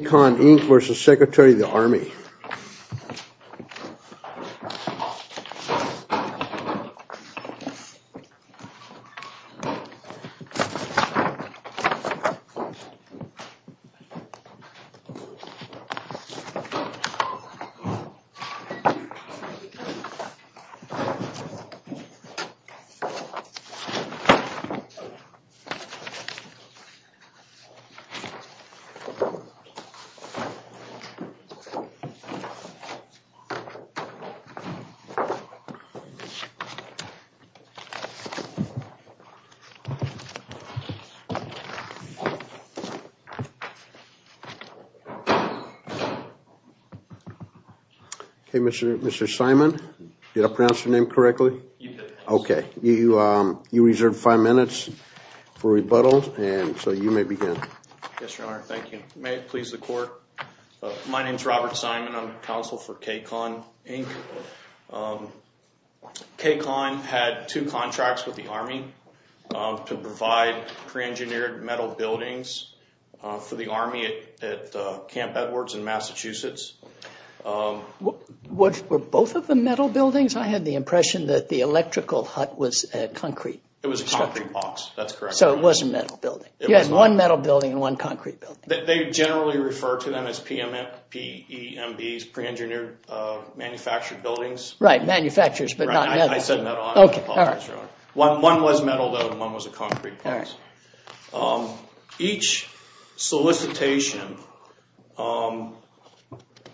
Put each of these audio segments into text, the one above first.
K-Con, Inc. v. Secretary of the Army Okay, Mr. Simon, did I pronounce your name correctly? You did. Okay. You reserved five minutes for rebuttal and so you may begin. Yes, Your Honor. Thank you. May it please the Court. My name is Robert Simon. I'm counsel for K-Con, Inc. K-Con had two contracts with the Army to provide pre-engineered metal buildings for the Army at Camp Edwards in Massachusetts. Were both of them metal buildings? I had the impression that the electrical hut was concrete. It was a concrete box. That's correct. So it was a metal building. You had one metal building and one concrete building. They generally refer to them as PEMBs, pre-engineered manufactured buildings. Right, manufacturers, but not metal. I said metal. I apologize, Your Honor. One was metal, though, and one was a concrete box. Each solicitation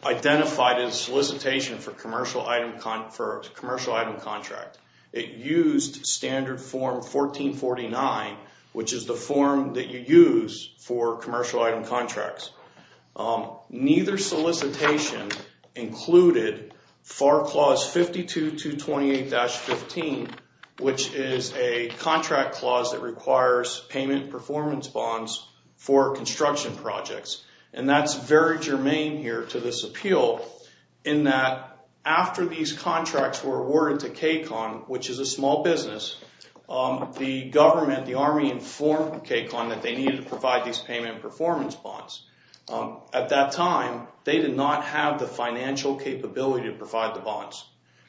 identified as solicitation for commercial item contract. It used Standard Form 1449, which is the form that you use for commercial item contracts. Neither solicitation included FAR Clause 52-228-15, which is a contract clause that requires payment performance bonds for construction projects. That's very germane here to this appeal in that after these contracts were awarded to K-Con, which is a small business, the government, the Army, informed K-Con that they needed to provide these payment performance bonds. At that time, they did not have the financial capability to provide the bonds.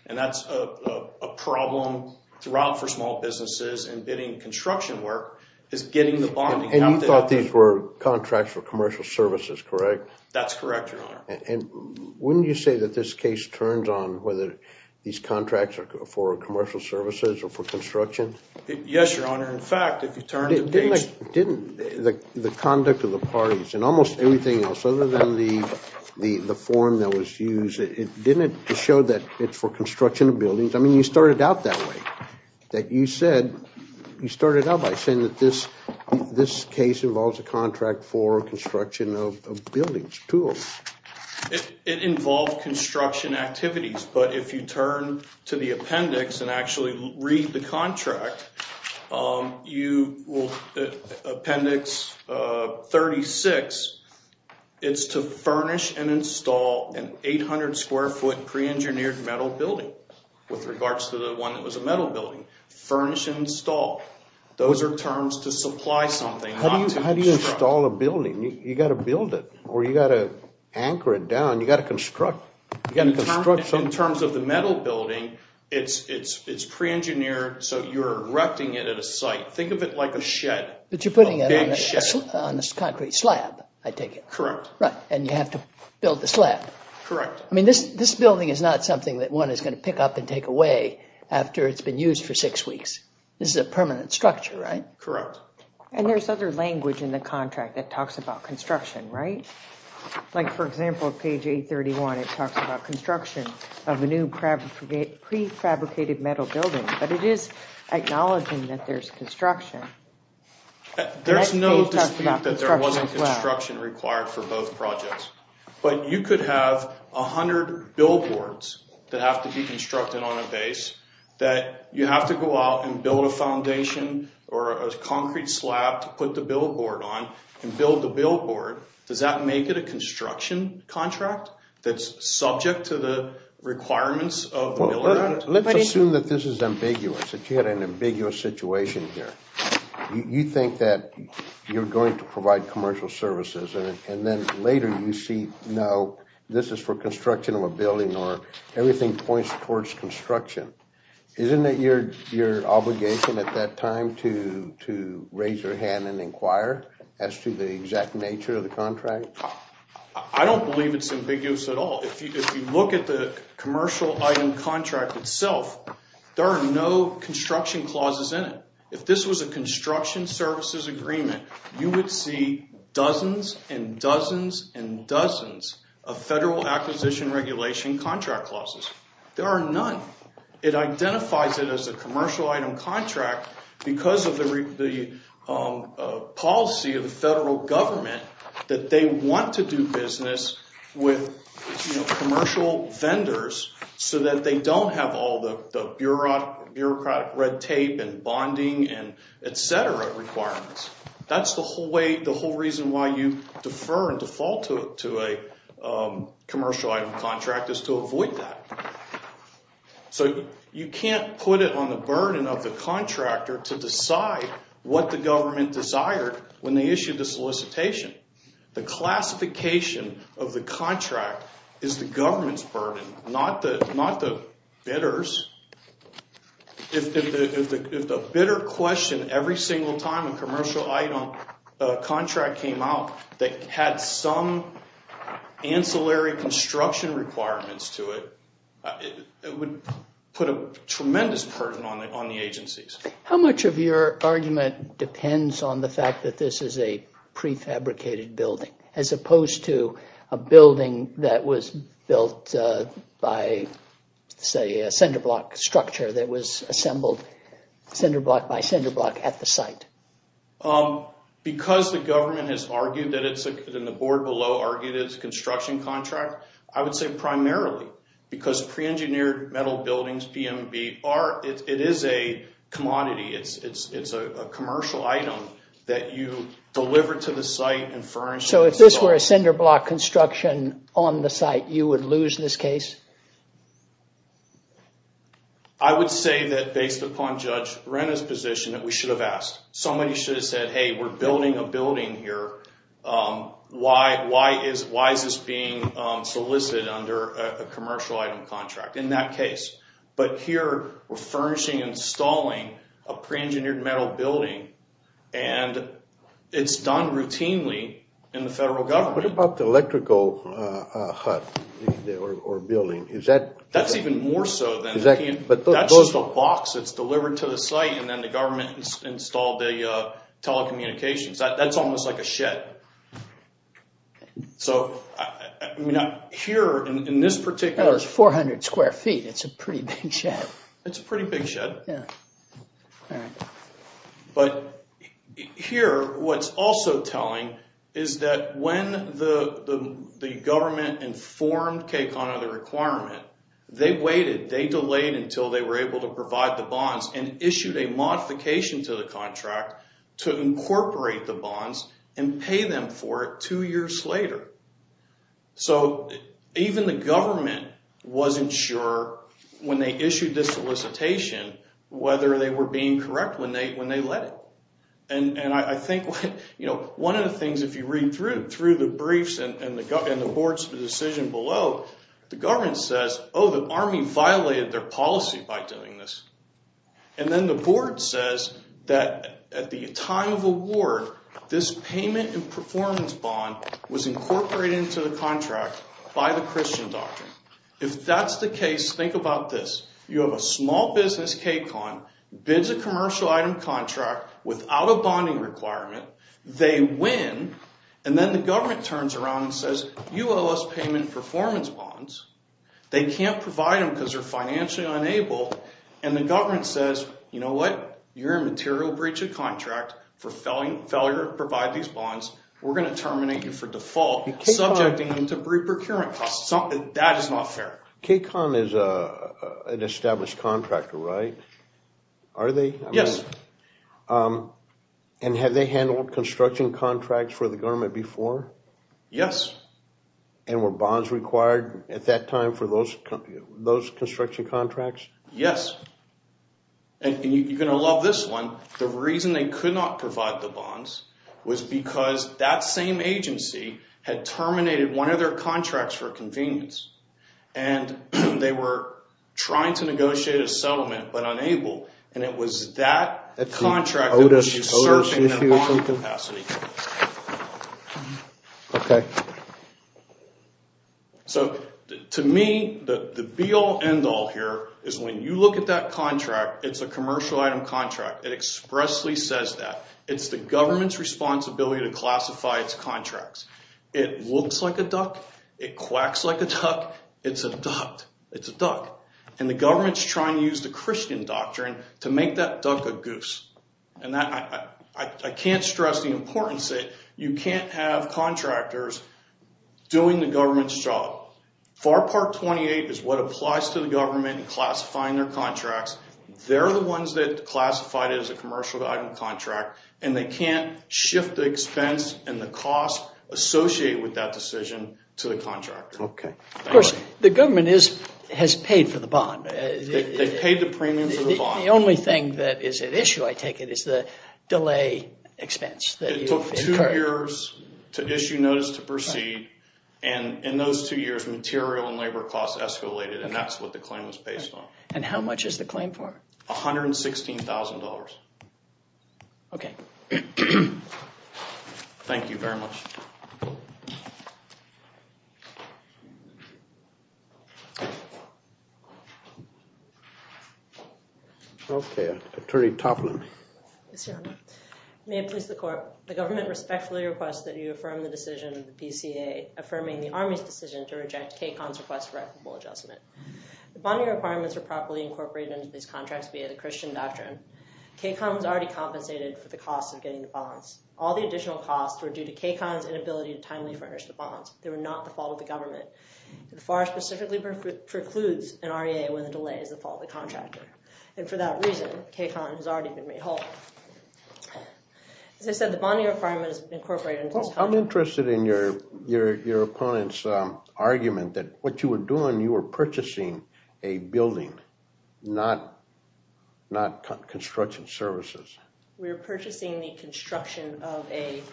That's a problem throughout for small businesses in bidding construction work is getting the bond. And you thought these were contracts for commercial services, correct? That's correct, Your Honor. And wouldn't you say that this case turns on whether these contracts are for commercial services or for construction? Yes, Your Honor. In fact, if you turn to page— Didn't the conduct of the parties and almost everything else other than the form that was used, didn't it show that it's for construction of buildings? I mean, you started out that way. You started out by saying that this case involves a contract for construction of buildings, tools. It involved construction activities, but if you turn to the appendix and actually read the contract, you will—appendix 36, it's to furnish and install an 800-square-foot pre-engineered metal building with regards to the one that was a metal building. Furnish and install. Those are terms to supply something, not to construct. How do you install a building? You've got to build it or you've got to anchor it down. You've got to construct. In terms of the metal building, it's pre-engineered, so you're erecting it at a site. Think of it like a shed, a big shed. But you're putting it on a concrete slab, I take it. Correct. Right, and you have to build the slab. Correct. I mean, this building is not something that one is going to pick up and take away after it's been used for six weeks. This is a permanent structure, right? Correct. And there's other language in the contract that talks about construction, right? Like, for example, page 831, it talks about construction of a new pre-fabricated metal building. But it is acknowledging that there's construction. There's no dispute that there wasn't construction required for both projects. But you could have 100 billboards that have to be constructed on a base that you have to go out and build a foundation or a concrete slab to put the billboard on and build the billboard. Does that make it a construction contract that's subject to the requirements of the Miller Act? Let's assume that this is ambiguous, that you had an ambiguous situation here. You think that you're going to provide commercial services, and then later you see, no, this is for construction of a building, or everything points towards construction. Isn't it your obligation at that time to raise your hand and inquire as to the exact nature of the contract? I don't believe it's ambiguous at all. If you look at the commercial item contract itself, there are no construction clauses in it. If this was a construction services agreement, you would see dozens and dozens and dozens of federal acquisition regulation contract clauses. There are none. It identifies it as a commercial item contract because of the policy of the federal government that they want to do business with commercial vendors so that they don't have all the bureaucratic red tape and bonding and et cetera requirements. That's the whole reason why you defer and default to a commercial item contract is to avoid that. You can't put it on the burden of the contractor to decide what the government desired when they issued the solicitation. The classification of the contract is the government's burden, not the bidder's. If the bidder questioned every single time a commercial item contract came out that had some ancillary construction requirements to it, it would put a tremendous burden on the agencies. How much of your argument depends on the fact that this is a prefabricated building, as opposed to a building that was built by, say, a cinder block structure that was assembled cinder block by cinder block at the site? Because the government has argued that it's, and the board below argued it's a construction contract, I would say primarily because pre-engineered metal buildings, BMB, it is a commodity. It's a commercial item that you deliver to the site and furnish. So if this were a cinder block construction on the site, you would lose this case? I would say that based upon Judge Renta's position that we should have asked. Somebody should have said, hey, we're building a building here. Why is this being solicited under a commercial item contract in that case? But here, we're furnishing and installing a pre-engineered metal building, and it's done routinely in the federal government. What about the electrical hut or building? That's even more so than that. That's just a box that's delivered to the site, and then the government installed the telecommunications. That's almost like a shed. Here, in this particular— It's 400 square feet. It's a pretty big shed. It's a pretty big shed. But here, what's also telling is that when the government informed KCON of the requirement, they waited, they delayed until they were able to provide the bonds and issued a modification to the contract to incorporate the bonds and pay them for it two years later. Even the government wasn't sure when they issued this solicitation whether they were being correct when they let it. One of the things, if you read through the briefs and the board's decision below, the government says, oh, the Army violated their policy by doing this. And then the board says that at the time of award, this payment and performance bond was incorporated into the contract by the Christian doctrine. If that's the case, think about this. You have a small business, KCON, bids a commercial item contract without a bonding requirement. They win, and then the government turns around and says, you owe us payment and performance bonds. They can't provide them because they're financially unable. And the government says, you know what? You're a material breach of contract for failure to provide these bonds. We're going to terminate you for default, subjecting you to reprocurement costs. That is not fair. KCON is an established contractor, right? Are they? Yes. And have they handled construction contracts for the government before? Yes. And were bonds required at that time for those construction contracts? Yes. And you're going to love this one. The reason they could not provide the bonds was because that same agency had terminated one of their contracts for convenience. And they were trying to negotiate a settlement but unable. And it was that contract that was usurping the bond capacity. Okay. So to me, the be-all, end-all here is when you look at that contract, it's a commercial item contract. It expressly says that. It's the government's responsibility to classify its contracts. It looks like a duck. It quacks like a duck. It's a duck. It's a duck. And the government's trying to use the Christian doctrine to make that duck a goose. And I can't stress the importance that you can't have contractors doing the government's job. FAR Part 28 is what applies to the government in classifying their contracts. They're the ones that classified it as a commercial item contract. And they can't shift the expense and the cost associated with that decision to the contractor. Okay. Of course, the government has paid for the bond. They've paid the premium for the bond. The only thing that is at issue, I take it, is the delay expense. It took two years to issue notice to proceed. And in those two years, material and labor costs escalated, and that's what the claim was based on. And how much is the claim for? $116,000. Okay. Thank you very much. Okay. Attorney Toplin. Yes, Your Honor. May it please the court, the government respectfully requests that you affirm the decision of the PCA affirming the Army's decision to reject KCON's request for equitable adjustment. The bonding requirements are properly incorporated into these contracts via the Christian doctrine. KCON was already compensated for the cost of getting the bonds. All the additional costs were due to KCON's inability to timely furnish the bonds. They were not the fault of the government. FAR specifically precludes an REA when the delay is the fault of the contractor. And for that reason, KCON has already been made whole. As I said, the bonding requirement is incorporated into this contract. I'm interested in your opponent's argument that what you were doing, you were purchasing a building, not construction services. We were purchasing the construction of a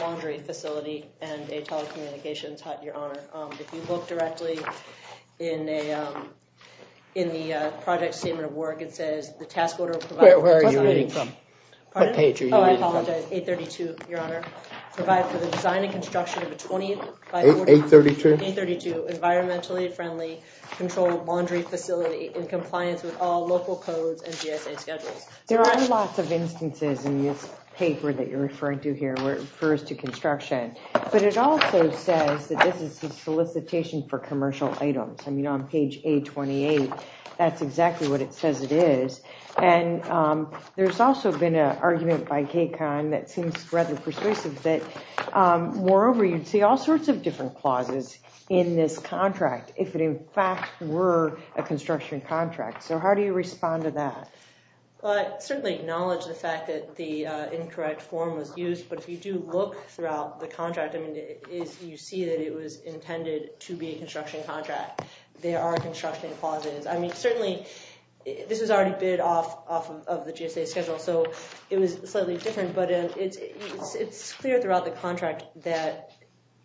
laundry facility and a telecommunications hut, Your Honor. If you look directly in the project statement of work, it says the task order provides... Where are you reading from? Pardon? What page are you reading from? Oh, I apologize. 832, Your Honor. Provide for the design and construction of a 20... 832? 832, environmentally friendly, controlled laundry facility in compliance with all local codes and GSA schedules. There are lots of instances in this paper that you're referring to here where it refers to construction. But it also says that this is a solicitation for commercial items. I mean, on page 828, that's exactly what it says it is. And there's also been an argument by KCON that seems rather persuasive that, moreover, you'd see all sorts of different clauses in this contract if it, in fact, were a construction contract. So how do you respond to that? Well, I certainly acknowledge the fact that the incorrect form was used. But if you do look throughout the contract, you see that it was intended to be a construction contract. There are construction clauses. I mean, certainly this was already bid off of the GSA schedule, so it was slightly different. But it's clear throughout the contract that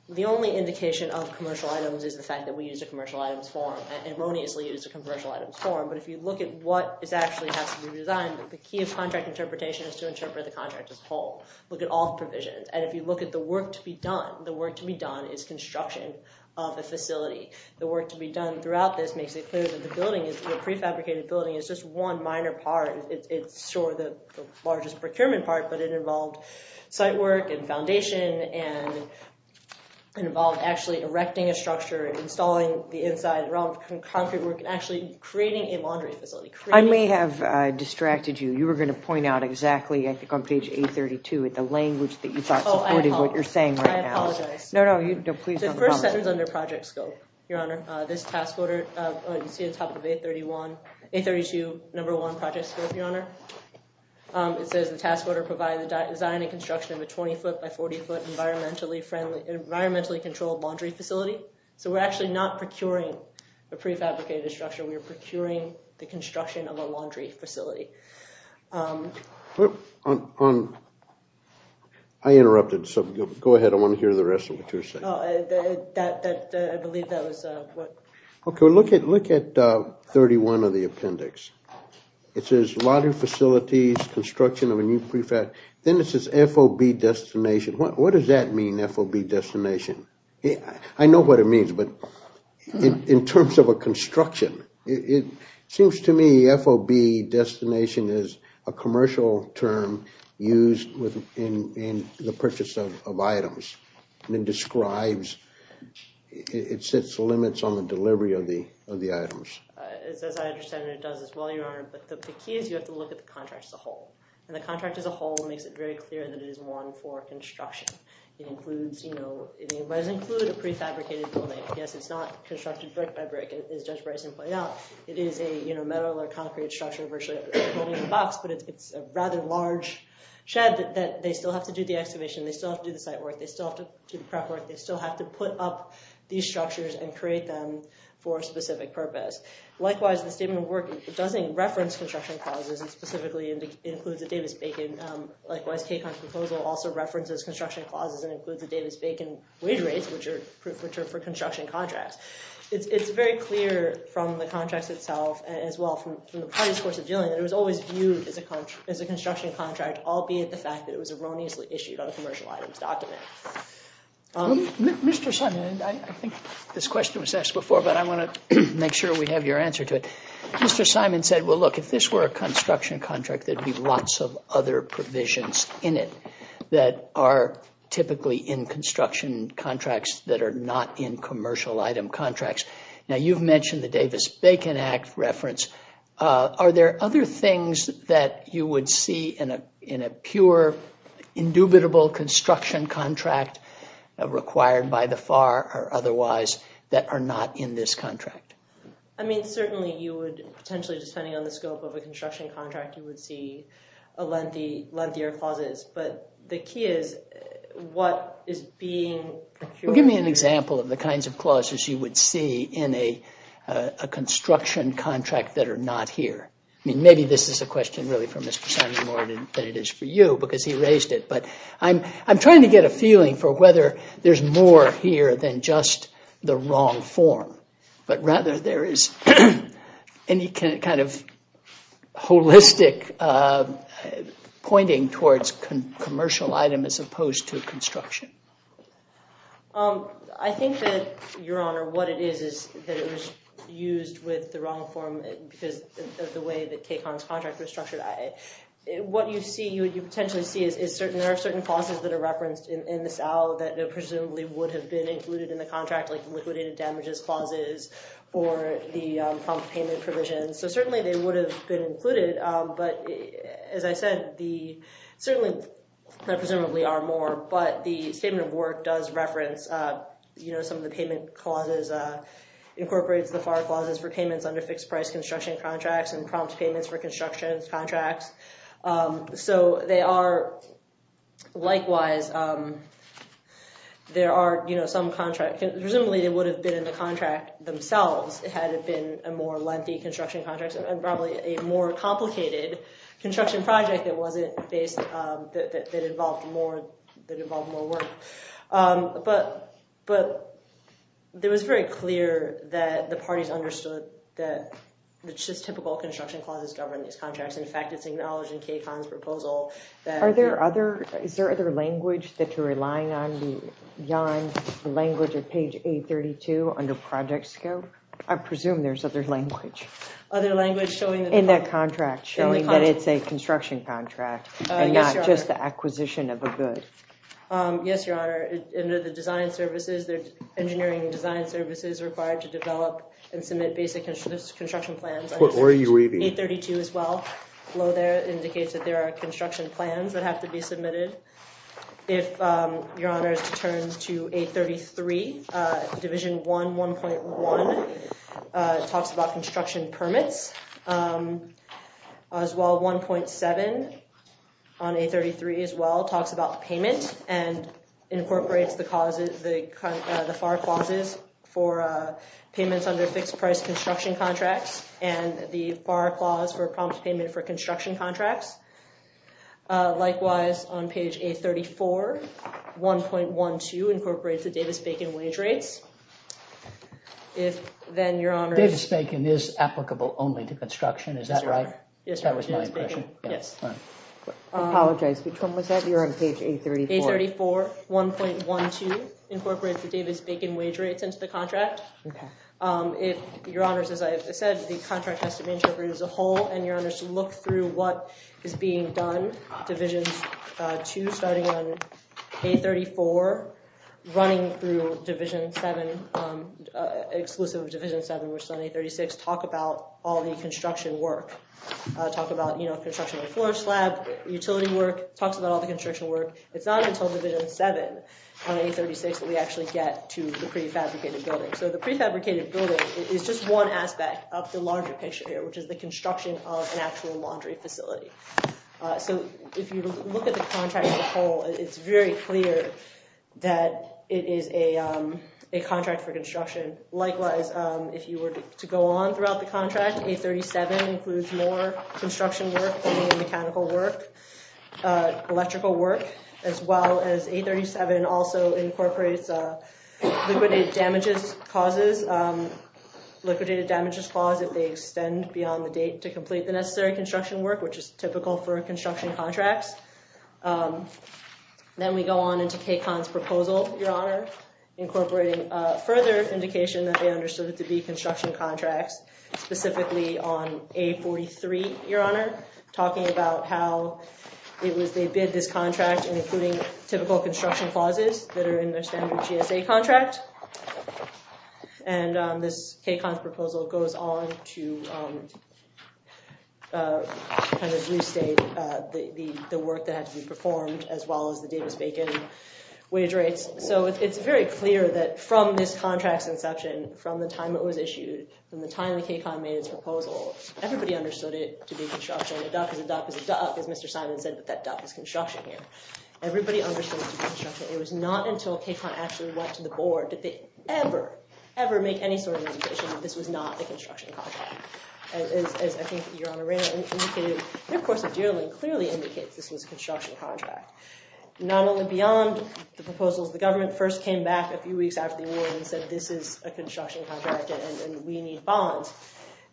the only indication of commercial items is the fact that we used a commercial items form, erroneously used a commercial items form. But if you look at what actually has to be designed, the key of contract interpretation is to interpret the contract as a whole. Look at all the provisions. And if you look at the work to be done, the work to be done is construction of the facility. The work to be done throughout this makes it clear that the building is a prefabricated building. It's just one minor part. It's sort of the largest procurement part, but it involved site work and foundation and involved actually erecting a structure and installing the inside, concrete work, and actually creating a laundry facility. I may have distracted you. You were going to point out exactly, I think, on page 832, the language that you thought supported what you're saying right now. Oh, I apologize. No, no. Please don't apologize. The first sentence under project scope, Your Honor, this task order, you see on top of 832, number one project scope, Your Honor. It says the task order provided the design and construction of a 20-foot by 40-foot environmentally friendly and environmentally controlled laundry facility. So we're actually not procuring a prefabricated structure. We're procuring the construction of a laundry facility. I interrupted. So go ahead. I want to hear the rest of what you're saying. I believe that was what. OK. Look at 31 of the appendix. It says laundry facilities, construction of a new prefab. Then it says FOB destination. What does that mean, FOB destination? I know what it means. But in terms of a construction, it seems to me FOB destination is a commercial term used in the purchase of items. And it describes, it sets limits on the delivery of the items. As I understand it, it does as well, Your Honor. But the key is you have to look at the contract as a whole. And the contract as a whole makes it very clear that it is one for construction. It does include a prefabricated building. Yes, it's not constructed brick by brick, as Judge Bryson pointed out. It is a metal or concrete structure virtually holding a box. But it's a rather large shed that they still have to do the excavation. They still have to do the site work. They still have to do the prep work. They still have to put up these structures and create them for a specific purpose. Likewise, the statement of work doesn't reference construction causes. It specifically includes a Davis-Bacon. Likewise, Kaycon's proposal also references construction clauses and includes the Davis-Bacon wage rates, which are proof for construction contracts. It's very clear from the contracts itself as well from the parties' course of dealing that it was always viewed as a construction contract, albeit the fact that it was erroneously issued on a commercial items document. Mr. Simon, I think this question was asked before, but I want to make sure we have your answer to it. Mr. Simon said, well, look, if this were a construction contract, there'd be lots of other provisions in it that are typically in construction contracts that are not in commercial item contracts. Now, you've mentioned the Davis-Bacon Act reference. Are there other things that you would see in a pure, indubitable construction contract required by the FAR or otherwise that are not in this contract? I mean, certainly you would, potentially depending on the scope of a construction contract, you would see lengthier clauses. But the key is, what is being... Well, give me an example of the kinds of clauses you would see in a construction contract that are not here. I mean, maybe this is a question really for Mr. Simon more than it is for you, because he raised it. But I'm trying to get a feeling for whether there's more here than just the wrong form. But rather, there is any kind of holistic pointing towards commercial item as opposed to construction. I think that, Your Honor, what it is is that it was used with the wrong form because of the way that Kay Conn's contract was structured. What you see, what you potentially see is there are certain clauses that are referenced in this out that presumably would have been included in the contract, like liquidated damages clauses or the prompt payment provisions. So certainly, they would have been included. But as I said, certainly there presumably are more. But the statement of work does reference some of the payment clauses, incorporates the FAR clauses for payments under fixed-price construction contracts and prompt payments for construction contracts. So likewise, there are some contracts. Presumably, they would have been in the contract themselves had it been a more lengthy construction contract and probably a more complicated construction project that involved more work. But it was very clear that the parties understood that the typical construction clauses govern these contracts. In fact, it's acknowledged in Kay Conn's proposal that— Are there other—is there other language that you're relying on beyond the language of page 832 under project scope? I presume there's other language. Other language showing that— In that contract, showing that it's a construction contract and not just the acquisition of a good. Yes, Your Honor. Under the design services, the engineering design services required to develop and submit basic construction plans— What were you reading? 832 as well. Below there, it indicates that there are construction plans that have to be submitted. If Your Honor is to turn to 833, Division 1, 1.1, talks about construction permits. As well, 1.7 on 833 as well talks about payment and incorporates the FAR clauses for payments under fixed-price construction contracts and the FAR clause for a prompt payment for construction contracts. Likewise, on page 834, 1.12 incorporates the Davis-Bacon wage rates. If then, Your Honor— Davis-Bacon is applicable only to construction, is that right? Yes, Your Honor. That was my impression. Yes. I apologize. Which one was that? You're on page 834. 834, 1.12 incorporates the Davis-Bacon wage rates into the contract. Your Honor, as I said, the contract has to be integrated as a whole, and Your Honor is to look through what is being done. Division 2, starting on 834, running through Division 7, exclusive of Division 7, which is on 836, talk about all the construction work. Talk about construction of the floor slab, utility work, talks about all the construction work. It's not until Division 7 on 836 that we actually get to the prefabricated building. So the prefabricated building is just one aspect of the larger picture here, which is the construction of an actual laundry facility. So if you look at the contract as a whole, it's very clear that it is a contract for construction. Likewise, if you were to go on throughout the contract, 837 includes more construction work, mechanical work, electrical work, as well as 837 also incorporates liquidated damages causes, liquidated damages clause if they extend beyond the date to complete the necessary construction work, which is typical for construction contracts. Then we go on into KACON's proposal, Your Honor, incorporating further indication that they understood it to be construction contracts, specifically on 843, Your Honor, talking about how it was they bid this contract, including typical construction clauses that are in their standard GSA contract. And this KACON proposal goes on to kind of restate the work that had to be performed, as well as the Davis-Bacon wage rates. So it's very clear that from this contract's inception, from the time it was issued, from the time the KACON made its proposal, everybody understood it to be construction. A duck is a duck is a duck, as Mr. Simon said, but that duck is construction here. Everybody understood it to be construction. It was not until KACON actually went to the board did they ever, ever make any sort of indication that this was not a construction contract. As I think Your Honor Rayner indicated, their course of dealing clearly indicates this was a construction contract. Not only beyond the proposals, the government first came back a few weeks after the award and said this is a construction contract and we need bonds.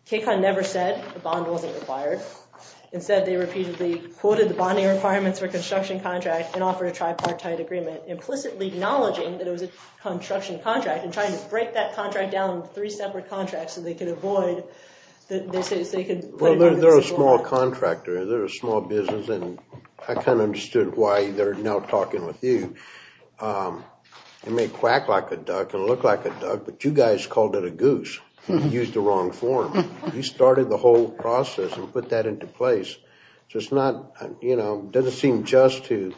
KACON never said the bond wasn't required. Instead, they repeatedly quoted the bonding requirements for a construction contract and offered a tripartite agreement, implicitly acknowledging that it was a construction contract and trying to break that contract down into three separate contracts so they could avoid, so they could put it on the table. Well, they're a small contractor, they're a small business, and I kind of understood why they're now talking with you. It may quack like a duck and look like a duck, but you guys called it a goose. You used the wrong form. You started the whole process and put that into place. So it's not, you know, it doesn't seem just to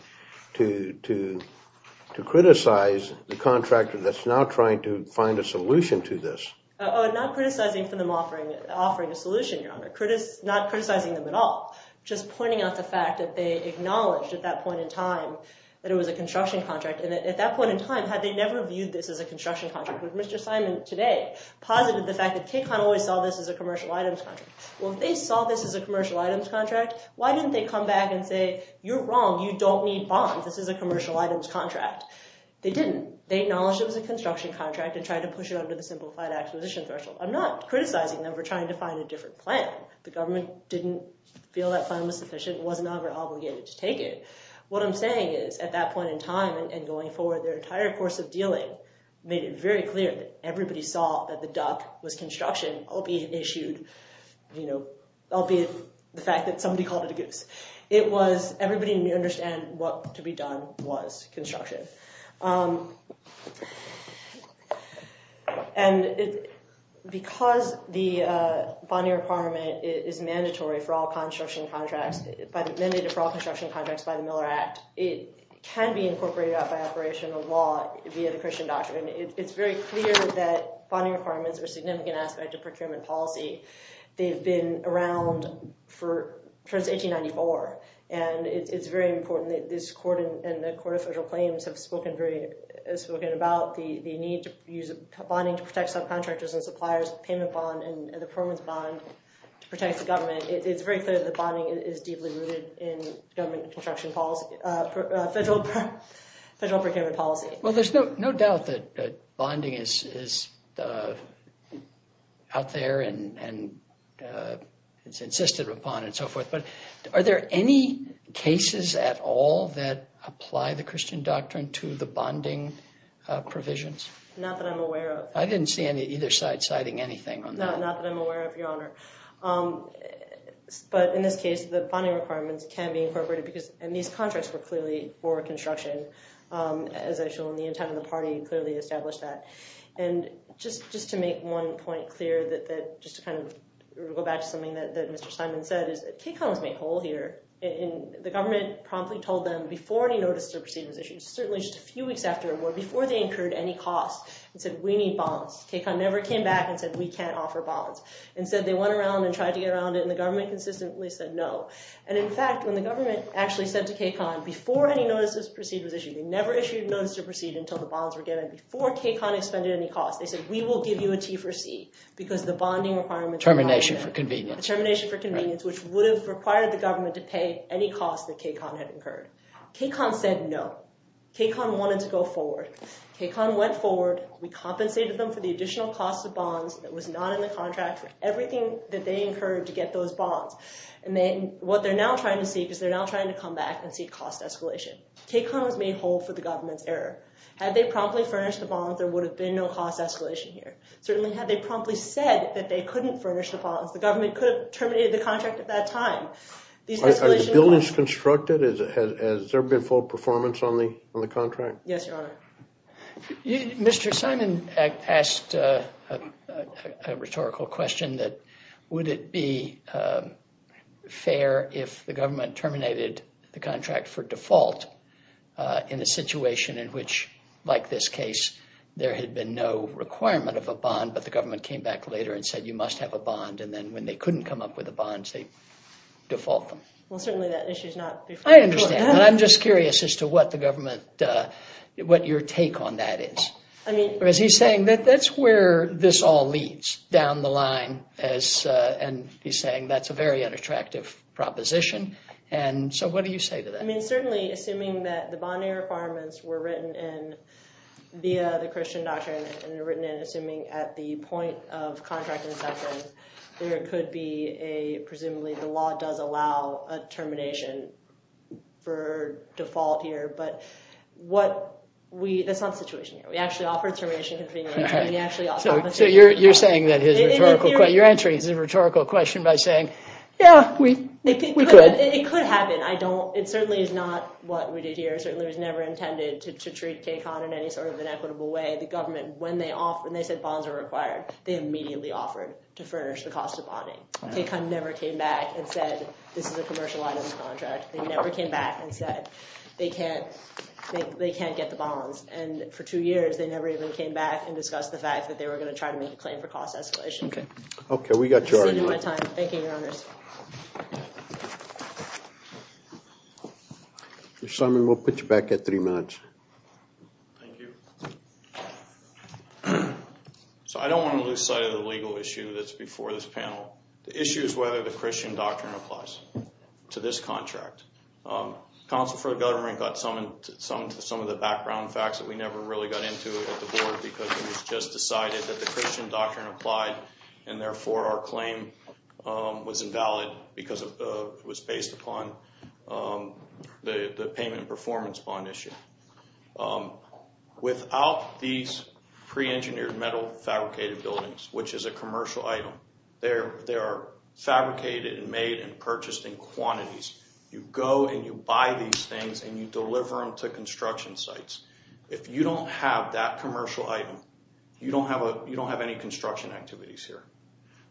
criticize the contractor that's now trying to find a solution to this. Oh, not criticizing them for offering a solution, Your Honor. Not criticizing them at all. Just pointing out the fact that they acknowledged at that point in time that it was a construction contract and at that point in time had they never viewed this as a construction contract which Mr. Simon today posited the fact that KCON always saw this as a commercial items contract. Well, if they saw this as a commercial items contract, why didn't they come back and say, you're wrong, you don't need bonds, this is a commercial items contract? They didn't. They acknowledged it was a construction contract and tried to push it under the simplified acquisition threshold. I'm not criticizing them for trying to find a different plan. The government didn't feel that plan was sufficient, wasn't obligated to take it. What I'm saying is, at that point in time and going forward, their entire course of dealing made it very clear that everybody saw that the duck was construction, albeit the fact that somebody called it a goose. It was everybody needed to understand what to be done was construction. Because the bonier requirement is mandated for all construction contracts by the Miller Act, it can be incorporated by operational law via the Christian doctrine. It's very clear that bonding requirements are a significant aspect of procurement policy. They've been around since 1894. It's very important that this court and the Court of Federal Claims have spoken about the need to use bonding to protect subcontractors and suppliers, payment bond and the permits bond to protect the government. It's very clear that bonding is deeply rooted in government construction policy, federal procurement policy. Well, there's no doubt that bonding is out there and it's insisted upon and so forth. But are there any cases at all that apply the Christian doctrine to the bonding provisions? Not that I'm aware of. I didn't see either side citing anything on that. No, not that I'm aware of, Your Honor. But in this case, the bonding requirements can be incorporated because these contracts were clearly for construction, as I've shown, the intent of the party clearly established that. And just to make one point clear, just to kind of go back to something that Mr. Simon said, is that KCON was made whole here. The government promptly told them before any notices or proceedings issued, certainly just a few weeks after, or before they incurred any costs, and said, we need bonds. KCON never came back and said, we can't offer bonds. Instead, they went around and tried to get around it and the government consistently said no. And in fact, when the government actually said to KCON, before any notices or proceedings issued, they never issued a notice to proceed until the bonds were given, before KCON expended any costs. They said, we will give you a T for C because the bonding requirements are not there. Termination for convenience. Termination for convenience, which would have required the government to pay any costs that KCON had incurred. KCON said no. KCON wanted to go forward. KCON went forward. We compensated them for the additional cost of bonds that was not in the contract, for everything that they incurred to get those bonds. And then what they're now trying to seek is they're now trying to come back and seek cost escalation. KCON has made hold for the government's error. Had they promptly furnished the bonds, there would have been no cost escalation here. Certainly had they promptly said that they couldn't furnish the bonds, the government could have terminated the contract at that time. Are the buildings constructed? Has there been full performance on the contract? Yes, Your Honor. Mr. Simon asked a rhetorical question that, would it be fair if the government terminated the contract for default in a situation in which, like this case, there had been no requirement of a bond, but the government came back later and said, you must have a bond. And then when they couldn't come up with the bonds, they default them. Well, certainly that issue is not before the court. I understand. And I'm just curious as to what the government, what your take on that is. Because he's saying that that's where this all leads, down the line. And he's saying that's a very unattractive proposition. And so what do you say to that? I mean, certainly, assuming that the bond-error requirements were written in via the Christian doctrine and were written in assuming at the point of contract inception, there could be a, presumably, the law does allow a termination for default here. But that's not the situation here. We actually offered termination convenience. So you're answering his rhetorical question by saying, yeah, we could. It could happen. It certainly is not what we did here. It certainly was never intended to treat KCON in any sort of inequitable way. The government, when they said bonds are required, they immediately offered to furnish the cost of bonding. KCON never came back and said, this is a commercial items contract. They never came back and said they can't get the bonds. And for two years, they never even came back and discussed the fact that they were going to try to make a claim for cost escalation. Okay, we got your argument. Thank you, Your Honors. Mr. Simon, we'll put you back at three minutes. Thank you. So I don't want to lose sight of the legal issue that's before this panel. The issue is whether the Christian doctrine applies to this contract. Counsel for the government got some of the background facts that we never really got into at the Board because it was just decided that the Christian doctrine applied and therefore our claim was invalid because it was based upon the payment and performance bond issue. Without these pre-engineered metal fabricated buildings, which is a commercial item, they are fabricated and made and purchased in quantities. You go and you buy these things and you deliver them to construction sites. If you don't have that commercial item, you don't have any construction activities here.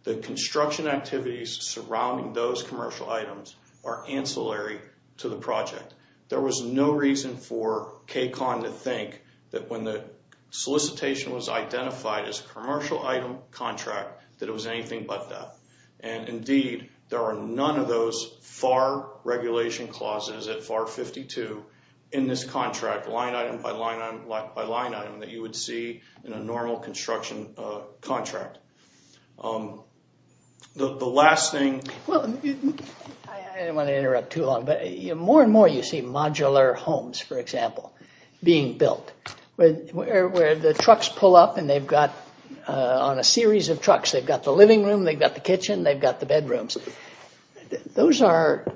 The construction activities surrounding those commercial items are ancillary to the project. There was no reason for KCON to think that when the solicitation was identified as a commercial item contract that it was anything but that. Indeed, there are none of those FAR regulation clauses at FAR 52 in this contract, line item by line item by line item, that you would see in a normal construction contract. The last thing... I didn't want to interrupt too long, but more and more you see modular homes, for example, being built where the trucks pull up and they've got, on a series of trucks, they've got the living room, they've got the kitchen, they've got the bedrooms. Those are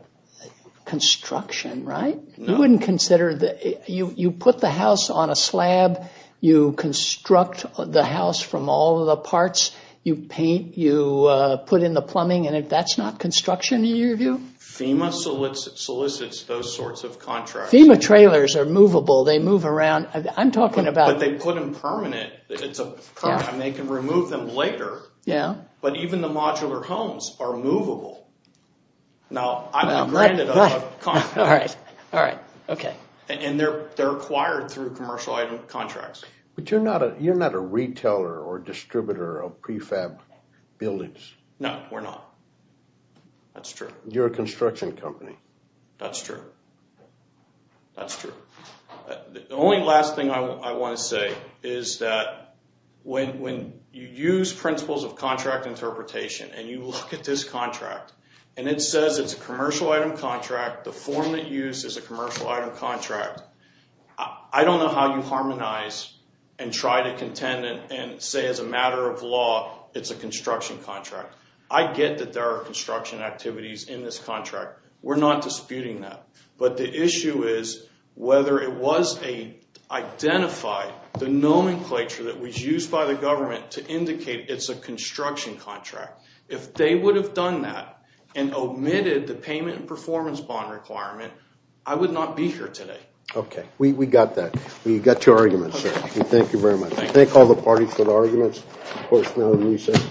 construction, right? You wouldn't consider... You put the house on a slab, you construct the house from all of the parts, you paint, you put in the plumbing, and if that's not construction, in your view? FEMA solicits those sorts of contracts. FEMA trailers are movable. They move around. I'm talking about... But they put them permanent. They can remove them later, but even the modular homes are movable. Now, I'm not granted a contract. All right. Okay. And they're acquired through commercial item contracts. But you're not a retailer or distributor of prefab buildings. No, we're not. That's true. You're a construction company. That's true. That's true. The only last thing I want to say is that when you use principles of contract interpretation and you look at this contract and it says it's a commercial item contract, the form that you use is a commercial item contract, I don't know how you harmonize and try to contend and say as a matter of law it's a construction contract. I get that there are construction activities in this contract. We're not disputing that. But the issue is whether it was identified, the nomenclature that was used by the government to indicate it's a construction contract. If they would have done that and omitted the payment and performance bond requirement, I would not be here today. Okay. We got that. We got your argument, sir. Thank you very much. Thank all the parties for the arguments. Of course, now we'll reset.